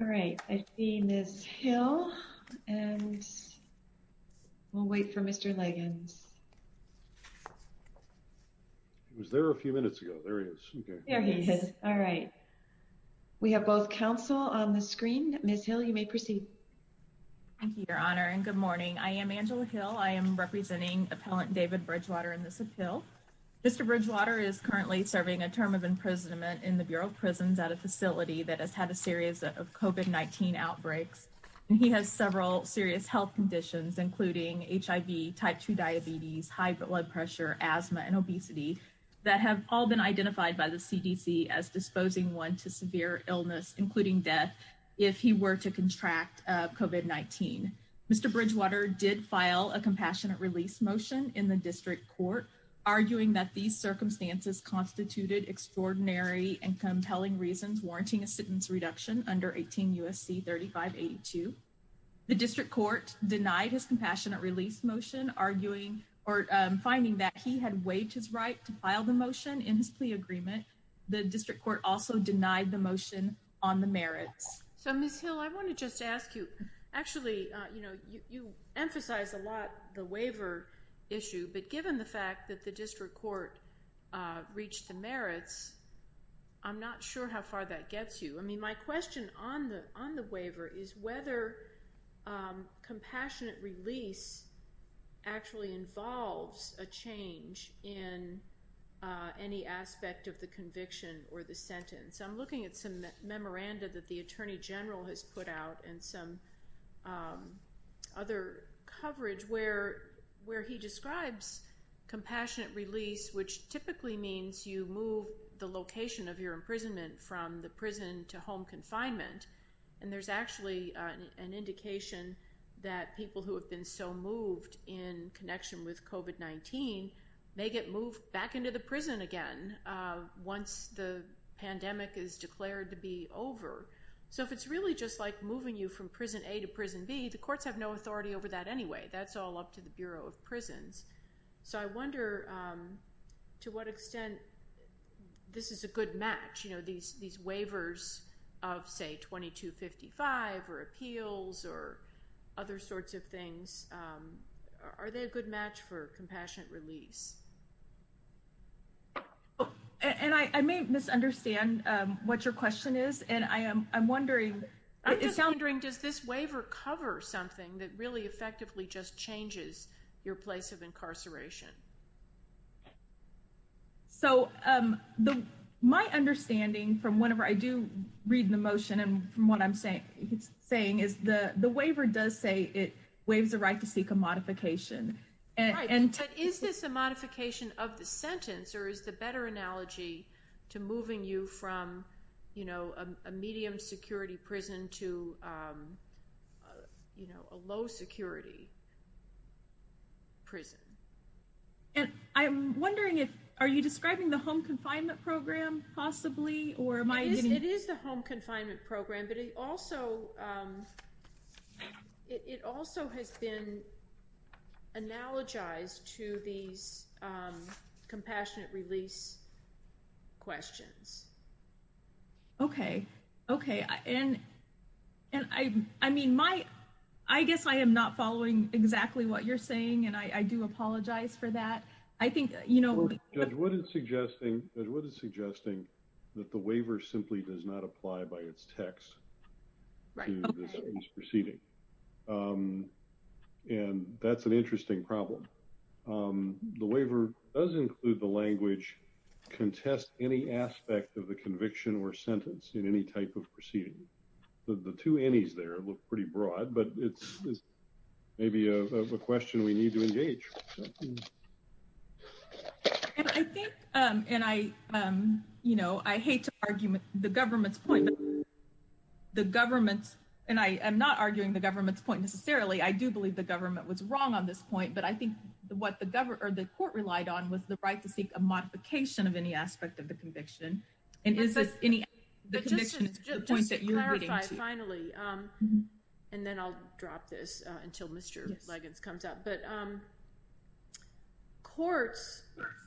All right, I see Ms. Hill and we'll wait for Mr. Leggins. He was there a few minutes ago. There he is. All right. We have both counsel on the screen, Ms. Hill you may proceed. Thank you, Your Honor, and good morning. I am Angela Hill. I am representing appellant David Bridgewater in this appeal. Mr. Bridgewater is currently serving a term of imprisonment in the Bureau of Prisons at a facility that has had a series of COVID-19 outbreaks. He has several serious health conditions, including HIV, type 2 diabetes, high blood pressure, asthma and obesity that have all been identified by the CDC as disposing one to severe illness, including death. If he were to contract COVID-19, Mr. Bridgewater did file a compassionate release motion in the district court, arguing that these circumstances constituted extraordinary and compelling reasons warranting a sentence reduction under 18 U.S.C. 3582. The district court denied his compassionate release motion, arguing or finding that he had waived his right to file the motion in his plea agreement. The district court also denied the motion on the merits. So, Ms. Hill, I want to just ask you, actually, you know, you emphasize a lot the waiver issue. But given the fact that the district court reached the merits, I'm not sure how far that gets you. I mean, my question on the waiver is whether compassionate release actually involves a change in any aspect of the conviction or the sentence. So I'm looking at some memoranda that the attorney general has put out and some other coverage where he describes compassionate release, which typically means you move the location of your imprisonment from the prison to home confinement. And there's actually an indication that people who have been so moved in connection with COVID-19 may get moved back into the prison again once the pandemic is declared to be over. So if it's really just like moving you from prison A to prison B, the courts have no authority over that anyway. That's all up to the Bureau of Prisons. So I wonder to what extent this is a good match, you know, these waivers of, say, 2255 or appeals or other sorts of things. Are they a good match for compassionate release? And I may misunderstand what your question is. I'm just wondering, does this waiver cover something that really effectively just changes your place of incarceration? So my understanding from whenever I do read the motion and from what I'm saying is the waiver does say it waives the right to seek a modification. Right, but is this a modification of the sentence or is the better analogy to moving you from, you know, a medium security prison to, you know, a low security prison? And I'm wondering if, are you describing the home confinement program possibly? It is the home confinement program, but it also has been analogized to these compassionate release questions. Okay, okay. And I mean, I guess I am not following exactly what you're saying. And I do apologize for that. Judge Wood is suggesting that the waiver simply does not apply by its text to this proceeding. And that's an interesting problem. The waiver does include the language, contest any aspect of the conviction or sentence in any type of proceeding. The two ennies there look pretty broad, but it's maybe a question we need to engage. And I think, and I, you know, I hate to argue with the government's point. The government's, and I am not arguing the government's point necessarily, I do believe the government was wrong on this point. But I think what the government or the court relied on was the right to seek a modification of any aspect of the conviction. But just to clarify, finally, and then I'll drop this until Mr. Liggins comes up. But courts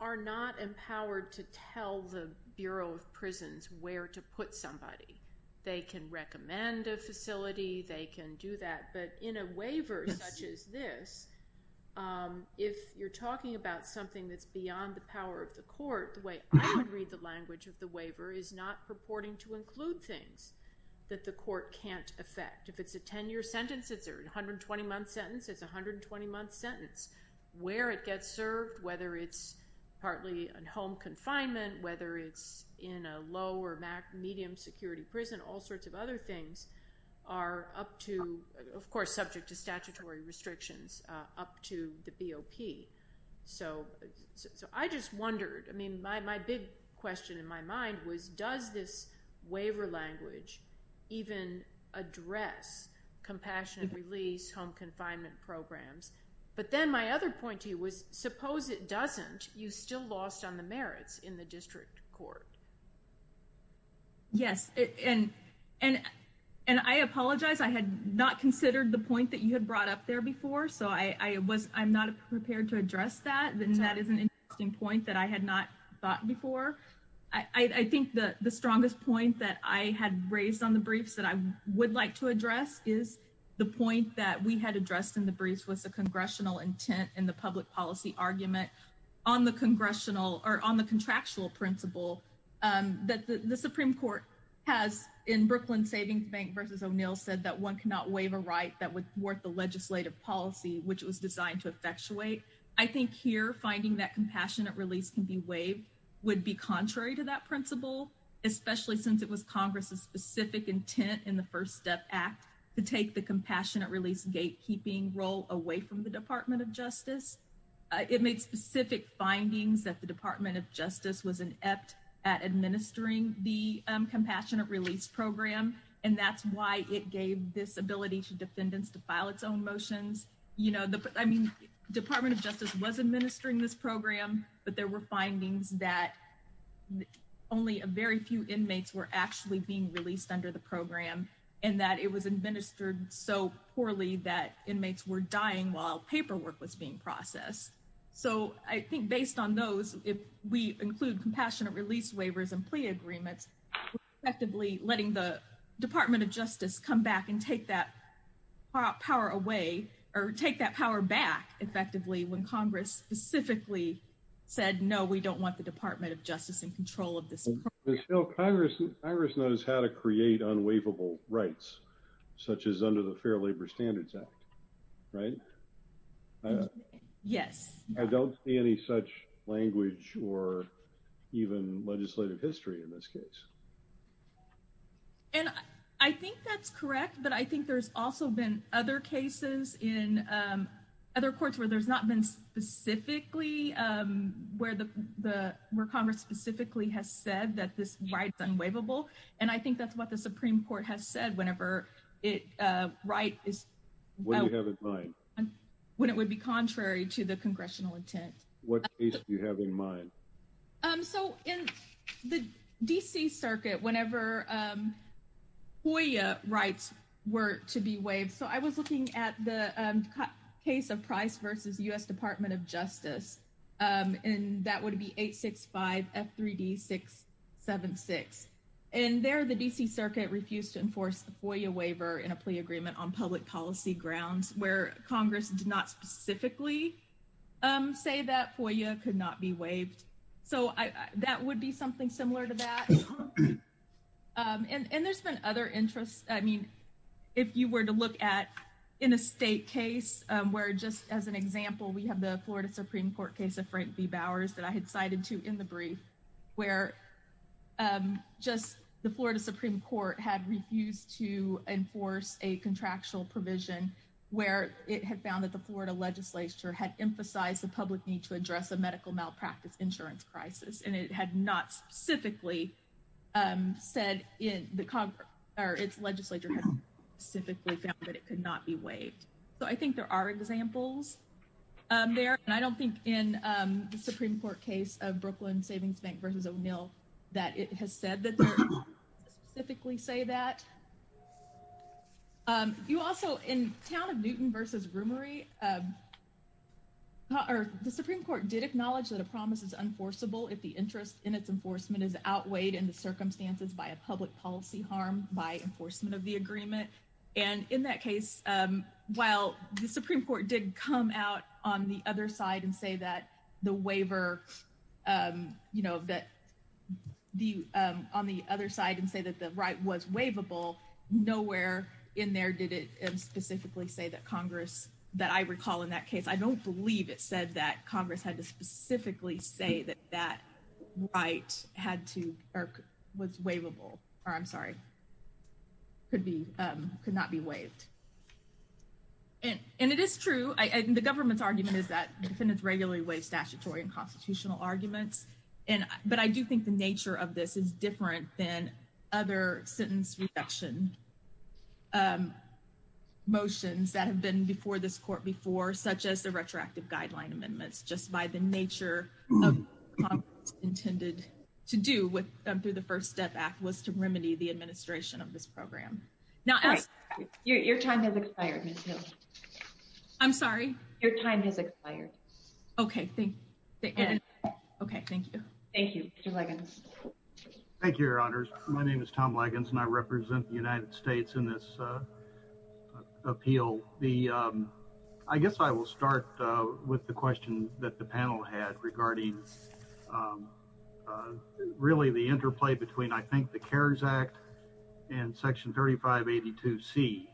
are not empowered to tell the Bureau of Prisons where to put somebody. They can recommend a facility, they can do that. But in a waiver such as this, if you're talking about something that's beyond the power of the court, the way I would read the language of the waiver is not purporting to include things that the court can't affect. If it's a 10-year sentence, it's a 120-month sentence, it's a 120-month sentence. Where it gets served, whether it's partly in home confinement, whether it's in a low or medium security prison, all sorts of other things are up to, of course, subject to statutory restrictions up to the BOP. So I just wondered, I mean, my big question in my mind was, does this waiver language even address compassionate release, home confinement programs? But then my other point to you was, suppose it doesn't, you still lost on the merits in the district court. Yes, and I apologize, I had not considered the point that you had brought up there before. So I'm not prepared to address that, and that is an interesting point that I had not thought before. I think the strongest point that I had raised on the briefs that I would like to address is the point that we had addressed in the briefs was the congressional intent in the public policy argument on the contractual principle that the Supreme Court has in Brooklyn Savings Bank v. O'Neill said that one cannot waive a right that would thwart the legislative policy, which was designed to effectuate. I think here, finding that compassionate release can be waived would be contrary to that principle, especially since it was Congress's specific intent in the First Step Act to take the compassionate release gatekeeping role away from the Department of Justice. It made specific findings that the Department of Justice was inept at administering the compassionate release program, and that's why it gave this ability to defendants to file its own motions. I mean, Department of Justice was administering this program, but there were findings that only a very few inmates were actually being released under the program, and that it was administered so poorly that inmates were dying while paperwork was being processed. So I think based on those, if we include compassionate release waivers and plea agreements, we're effectively letting the Department of Justice come back and take that power away, or take that power back, effectively, when Congress specifically said, no, we don't want the Department of Justice in control of this program. Congress knows how to create unwaivable rights, such as under the Fair Labor Standards Act, right? Yes. I don't see any such language or even legislative history in this case. And I think that's correct, but I think there's also been other cases in other courts where there's not been specifically where Congress specifically has said that this right is unwaivable, and I think that's what the Supreme Court has said whenever a right is unwaivable. What do you have in mind? When it would be contrary to the congressional intent. What case do you have in mind? So in the D.C. Circuit, whenever FOIA rights were to be waived, so I was looking at the case of Price v. U.S. Department of Justice, and that would be 865 F3D 676. And there the D.C. Circuit refused to enforce the FOIA waiver in a plea agreement on public policy grounds where Congress did not specifically say that FOIA could not be waived. So that would be something similar to that. And there's been other interests. I mean, if you were to look at in a state case where just as an example, we have the Florida Supreme Court case of Frank v. Bowers that I had cited to in the brief, where just the Florida Supreme Court had refused to enforce a contractual provision where it had found that the Florida legislature had emphasized the public need to address a medical malpractice insurance crisis, and it had not specifically said in the Congress or its legislature had specifically found that it could not be waived. So I think there are examples there. And I don't think in the Supreme Court case of Brooklyn Savings Bank v. O'Neill that it has said that they specifically say that. You also, in Town of Newton v. Roomery, the Supreme Court did acknowledge that a promise is enforceable if the interest in its enforcement is outweighed in the circumstances by a public policy harm by enforcement of the agreement. And in that case, while the Supreme Court did come out on the other side and say that the waiver, you know, that the on the other side and say that the right was waivable, nowhere in there did it specifically say that Congress that I recall in that case, I don't believe it said that Congress had to specifically say that that right had to or was waivable. Or I'm sorry, could be could not be waived. And it is true. And the government's argument is that defendants regularly waive statutory and constitutional arguments. And but I do think the nature of this is different than other sentence reduction motions that have been before this court before, such as the retroactive guideline amendments, just by the nature of intended to do with them through the First Step Act was to remedy the administration of this program. Now, your time has expired. I'm sorry, your time has expired. OK, thank you. OK, thank you. Thank you. Thank you, Your Honors. My name is Tom Leggins and I represent the United States in this appeal. The I guess I will start with the question that the panel had regarding really the interplay between, I think, the CARES Act and Section 3582 C.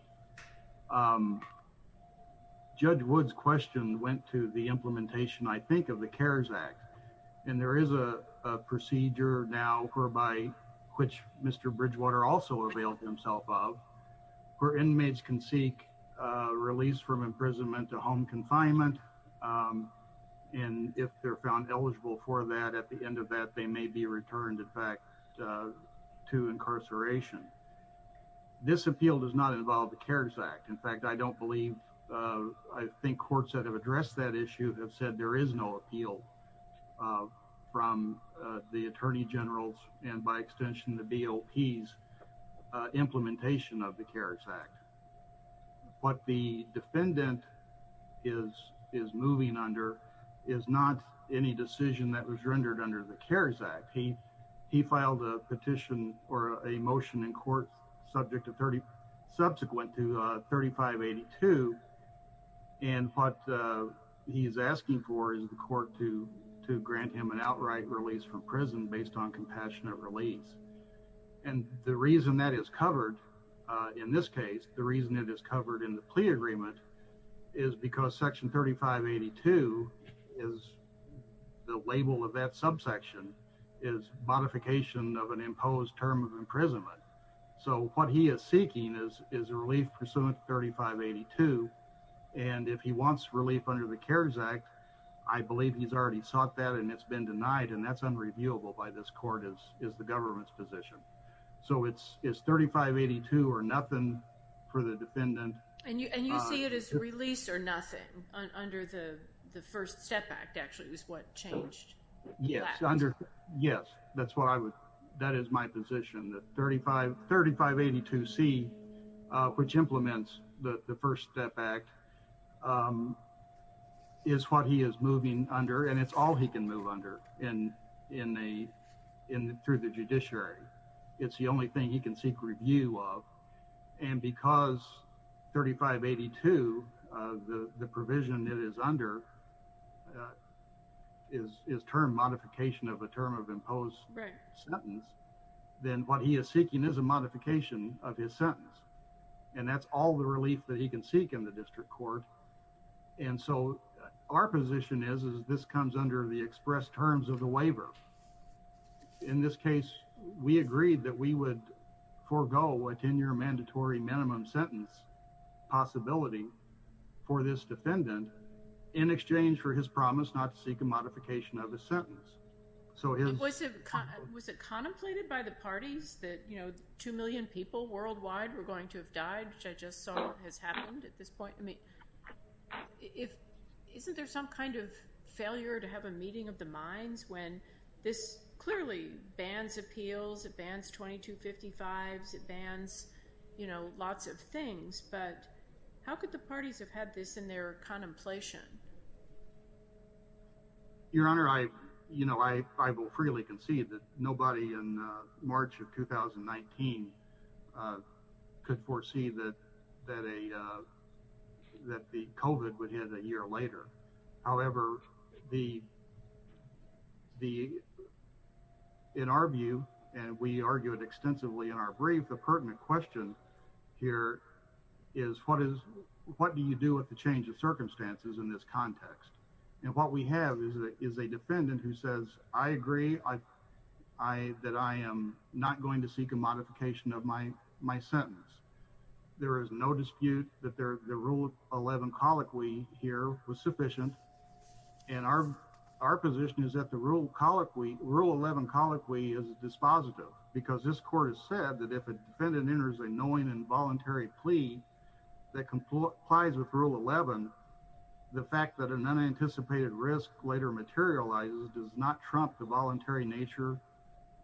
Judge Wood's question went to the implementation, I think, of the CARES Act. And there is a procedure now whereby which Mr. Bridgewater also availed himself of where inmates can seek release from imprisonment to home confinement. And if they're found eligible for that, at the end of that, they may be returned back to incarceration. This appeal does not involve the CARES Act. In fact, I don't believe I think courts that have addressed that issue have said there is no appeal. From the Attorney General's and by extension, the BOP's implementation of the CARES Act. What the defendant is moving under is not any decision that was rendered under the CARES Act. He filed a petition or a motion in court subject to 30 subsequent to 3582. And what he is asking for is the court to grant him an outright release from prison based on compassionate release. And the reason that is covered in this case, the reason it is covered in the plea agreement is because Section 3582 is the label of that subsection is modification of an imposed term of imprisonment. So what he is seeking is a relief pursuant to 3582. And if he wants relief under the CARES Act, I believe he's already sought that and it's been denied. And that's unreviewable by this court is the government's position. So it's 3582 or nothing for the defendant. And you see it as release or nothing under the First Step Act actually is what changed. Yes. Yes. That's what I would. That is my position that 35, 3582 C, which implements the First Step Act is what he is moving under. And it's all he can move under and in a in through the judiciary. It's the only thing he can seek review of. And because 3582, the provision that is under his term modification of a term of imposed sentence, then what he is seeking is a modification of his sentence. And that's all the relief that he can seek in the district court. And so our position is, is this comes under the express terms of the waiver. In this case, we agreed that we would forego a 10 year mandatory minimum sentence possibility for this defendant in exchange for his promise not to seek a modification of a sentence. Was it contemplated by the parties that two million people worldwide were going to have died, which I just saw has happened at this point? I mean, isn't there some kind of failure to have a meeting of the minds when this clearly bans appeals, it bans 2255s, it bans lots of things. But how could the parties have had this in their contemplation? Your Honor, I, you know, I, I will freely concede that nobody in March of 2019 could foresee that that a that the COVID would hit a year later. However, the, the, in our view, and we argued extensively in our brief, the pertinent question here is what is, what do you do with the change of circumstances in this context? And what we have is a defendant who says, I agree, I, I, that I am not going to seek a modification of my, my sentence. There is no dispute that there, the rule 11 colloquy here was sufficient. And our, our position is that the rule colloquy rule 11 colloquy is dispositive because this court has said that if a defendant enters a knowing involuntary plea that complies with rule 11, the fact that an unanticipated risk later materializes does not trump the voluntary nature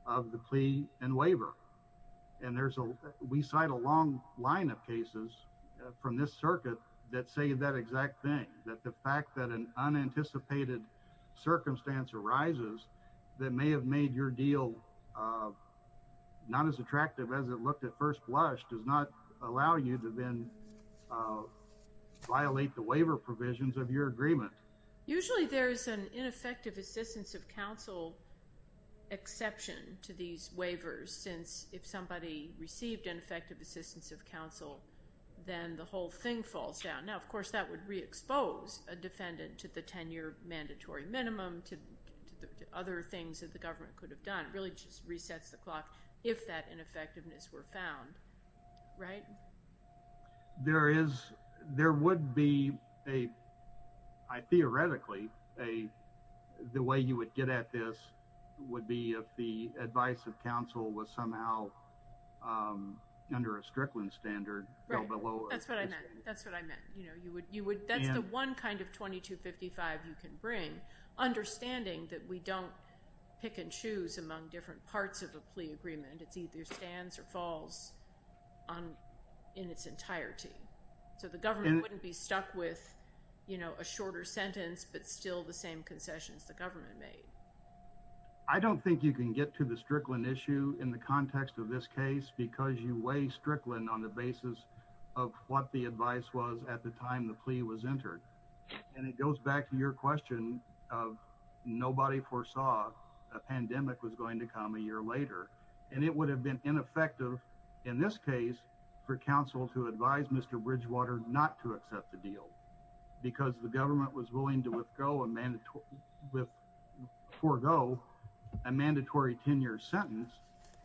of the plea and waiver. And there's a, we cite a long line of cases from this circuit that say that exact thing, that the fact that an unanticipated circumstance arises that may have made your deal not as attractive as it looked at first blush does not allow you to then violate the waiver provisions of your agreement. Usually there's an ineffective assistance of counsel exception to these waivers since if somebody received ineffective assistance of counsel, then the whole thing falls down. Now, of course, that would re-expose a defendant to the 10-year mandatory minimum, to, to the other things that the government could have done. It really just resets the clock if that ineffectiveness were found, right? There is, there would be a, I theoretically, a, the way you would get at this would be if the advice of counsel was somehow under a Strickland standard. Right. That's what I meant. That's what I meant. That's the one kind of 2255 you can bring. Understanding that we don't pick and choose among different parts of a plea agreement. It's either stands or falls on, in its entirety. So the government wouldn't be stuck with, you know, a shorter sentence, but still the same concessions the government made. I don't think you can get to the Strickland issue in the context of this case because you weigh Strickland on the basis of what the advice was at the time the plea was entered. And it goes back to your question of nobody foresaw a pandemic was going to come a year later. And it would have been ineffective in this case for counsel to advise Mr. Bridgewater not to accept the deal because the government was willing to with go a mandatory with forego a mandatory 10 year sentence.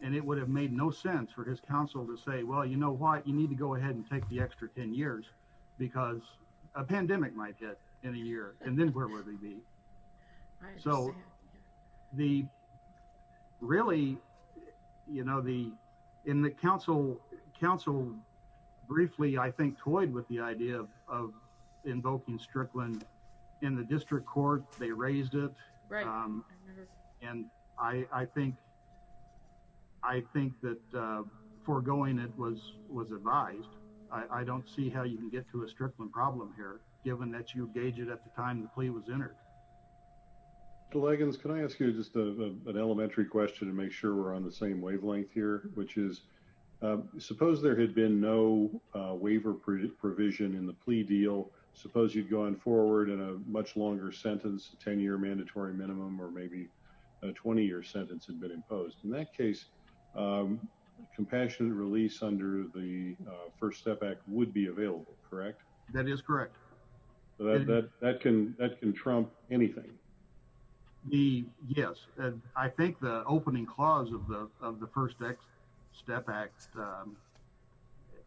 And it would have made no sense for his counsel to say, well, you know what, you need to go ahead and take the extra 10 years because a pandemic might get in a year. And then where would they be. So, the really, you know, the in the council council briefly I think toyed with the idea of invoking Strickland in the district court, they raised it. And I think I think that foregoing it was was advised. I don't see how you can get to a Strickland problem here, given that you engage it at the time the plea was entered. Leggings Can I ask you just an elementary question to make sure we're on the same wavelength here, which is suppose there had been no waiver provision in the plea deal. Suppose you've gone forward and a much longer sentence 10 year mandatory minimum or maybe a 20 year sentence had been imposed in that case. Compassionate release under the First Step Act would be available, correct. That is correct. That can that can trump anything. Yes, I think the opening clause of the First Step Act.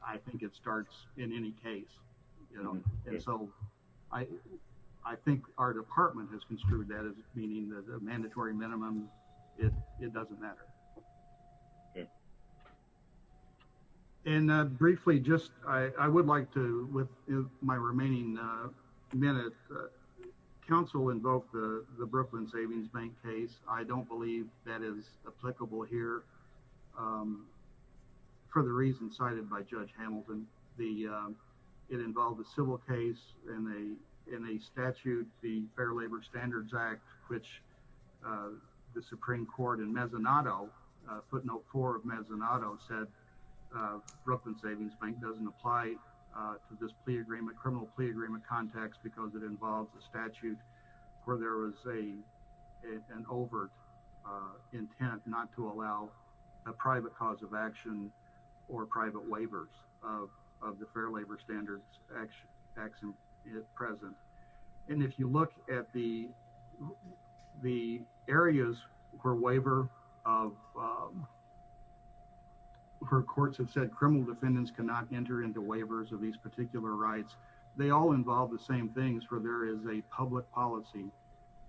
I think it starts in any case. So, I, I think our department has construed that as meaning that the mandatory minimum. It doesn't matter. Okay. And briefly just, I would like to with my remaining minute. Council invoke the Brooklyn Savings Bank case, I don't believe that is applicable here. For the reason cited by Judge Hamilton, the, it involved a civil case in a, in a statute, the Fair Labor Standards Act, which the Supreme Court and mezzanotto footnote for mezzanotto said, Brooklyn Savings Bank doesn't apply to this plea agreement criminal plea agreement context because it involves a statute where there was a, an overt intent not to allow a private cause of action or private waivers of of the Fair Labor Standards Act action present. And if you look at the, the areas for waiver of her courts have said criminal defendants cannot enter into waivers of these particular rights. They all involve the same things for there is a public policy,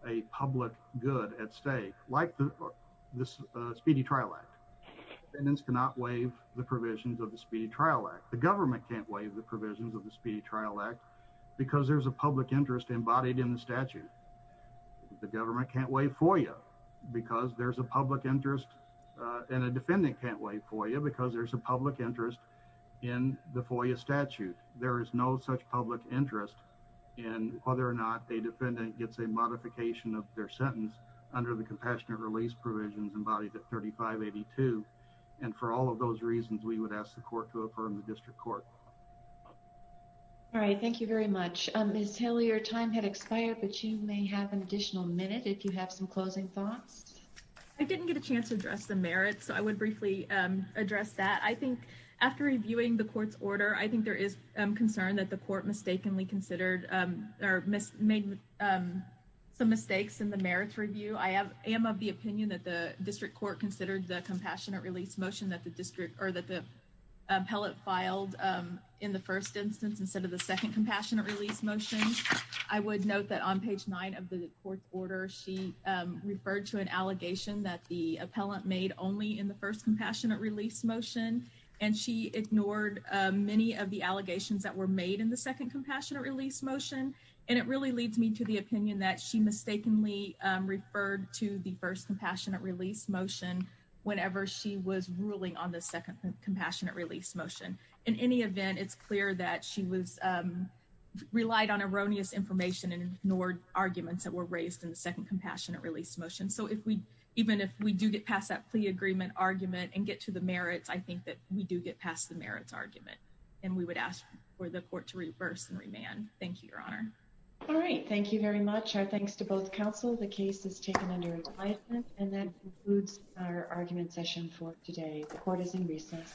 a public good at stake, like this speedy trial act. And it's cannot waive the provisions of the speedy trial act the government can't waive the provisions of the speedy trial act, because there's a public interest embodied in the statute. The government can't wait for you, because there's a public interest in a defendant can't wait for you because there's a public interest in the FOIA statute, there is no such public interest in whether or not a defendant gets a modification of their sentence under the compassionate release provisions embodied at 3582. And for all of those reasons, we would ask the court to affirm the district court. All right, thank you very much. Ms. Haley, your time had expired, but you may have an additional minute if you have some closing thoughts. I didn't get a chance to address the merits. So I would briefly address that I think after reviewing the court's order, I think there is concern that the court mistakenly considered or made some mistakes in the merits review. I have am of the opinion that the district court considered the compassionate release motion that the district or that the appellate filed in the first instance, instead of the second compassionate release motion. I would note that on page nine of the court order, she referred to an allegation that the appellant made only in the first compassionate release motion, and she ignored many of the allegations that were made in the second compassionate release motion. And it really leads me to the opinion that she mistakenly referred to the first compassionate release motion whenever she was ruling on the second compassionate release motion. In any event, it's clear that she was relied on erroneous information and ignored arguments that were raised in the second compassionate release motion. So even if we do get past that plea agreement argument and get to the merits, I think that we do get past the merits argument, and we would ask for the court to reverse and remand. Thank you, Your Honor. All right. Thank you very much. Our thanks to both counsel. The case is taken under advisement, and that concludes our argument session for today. The court is in recess.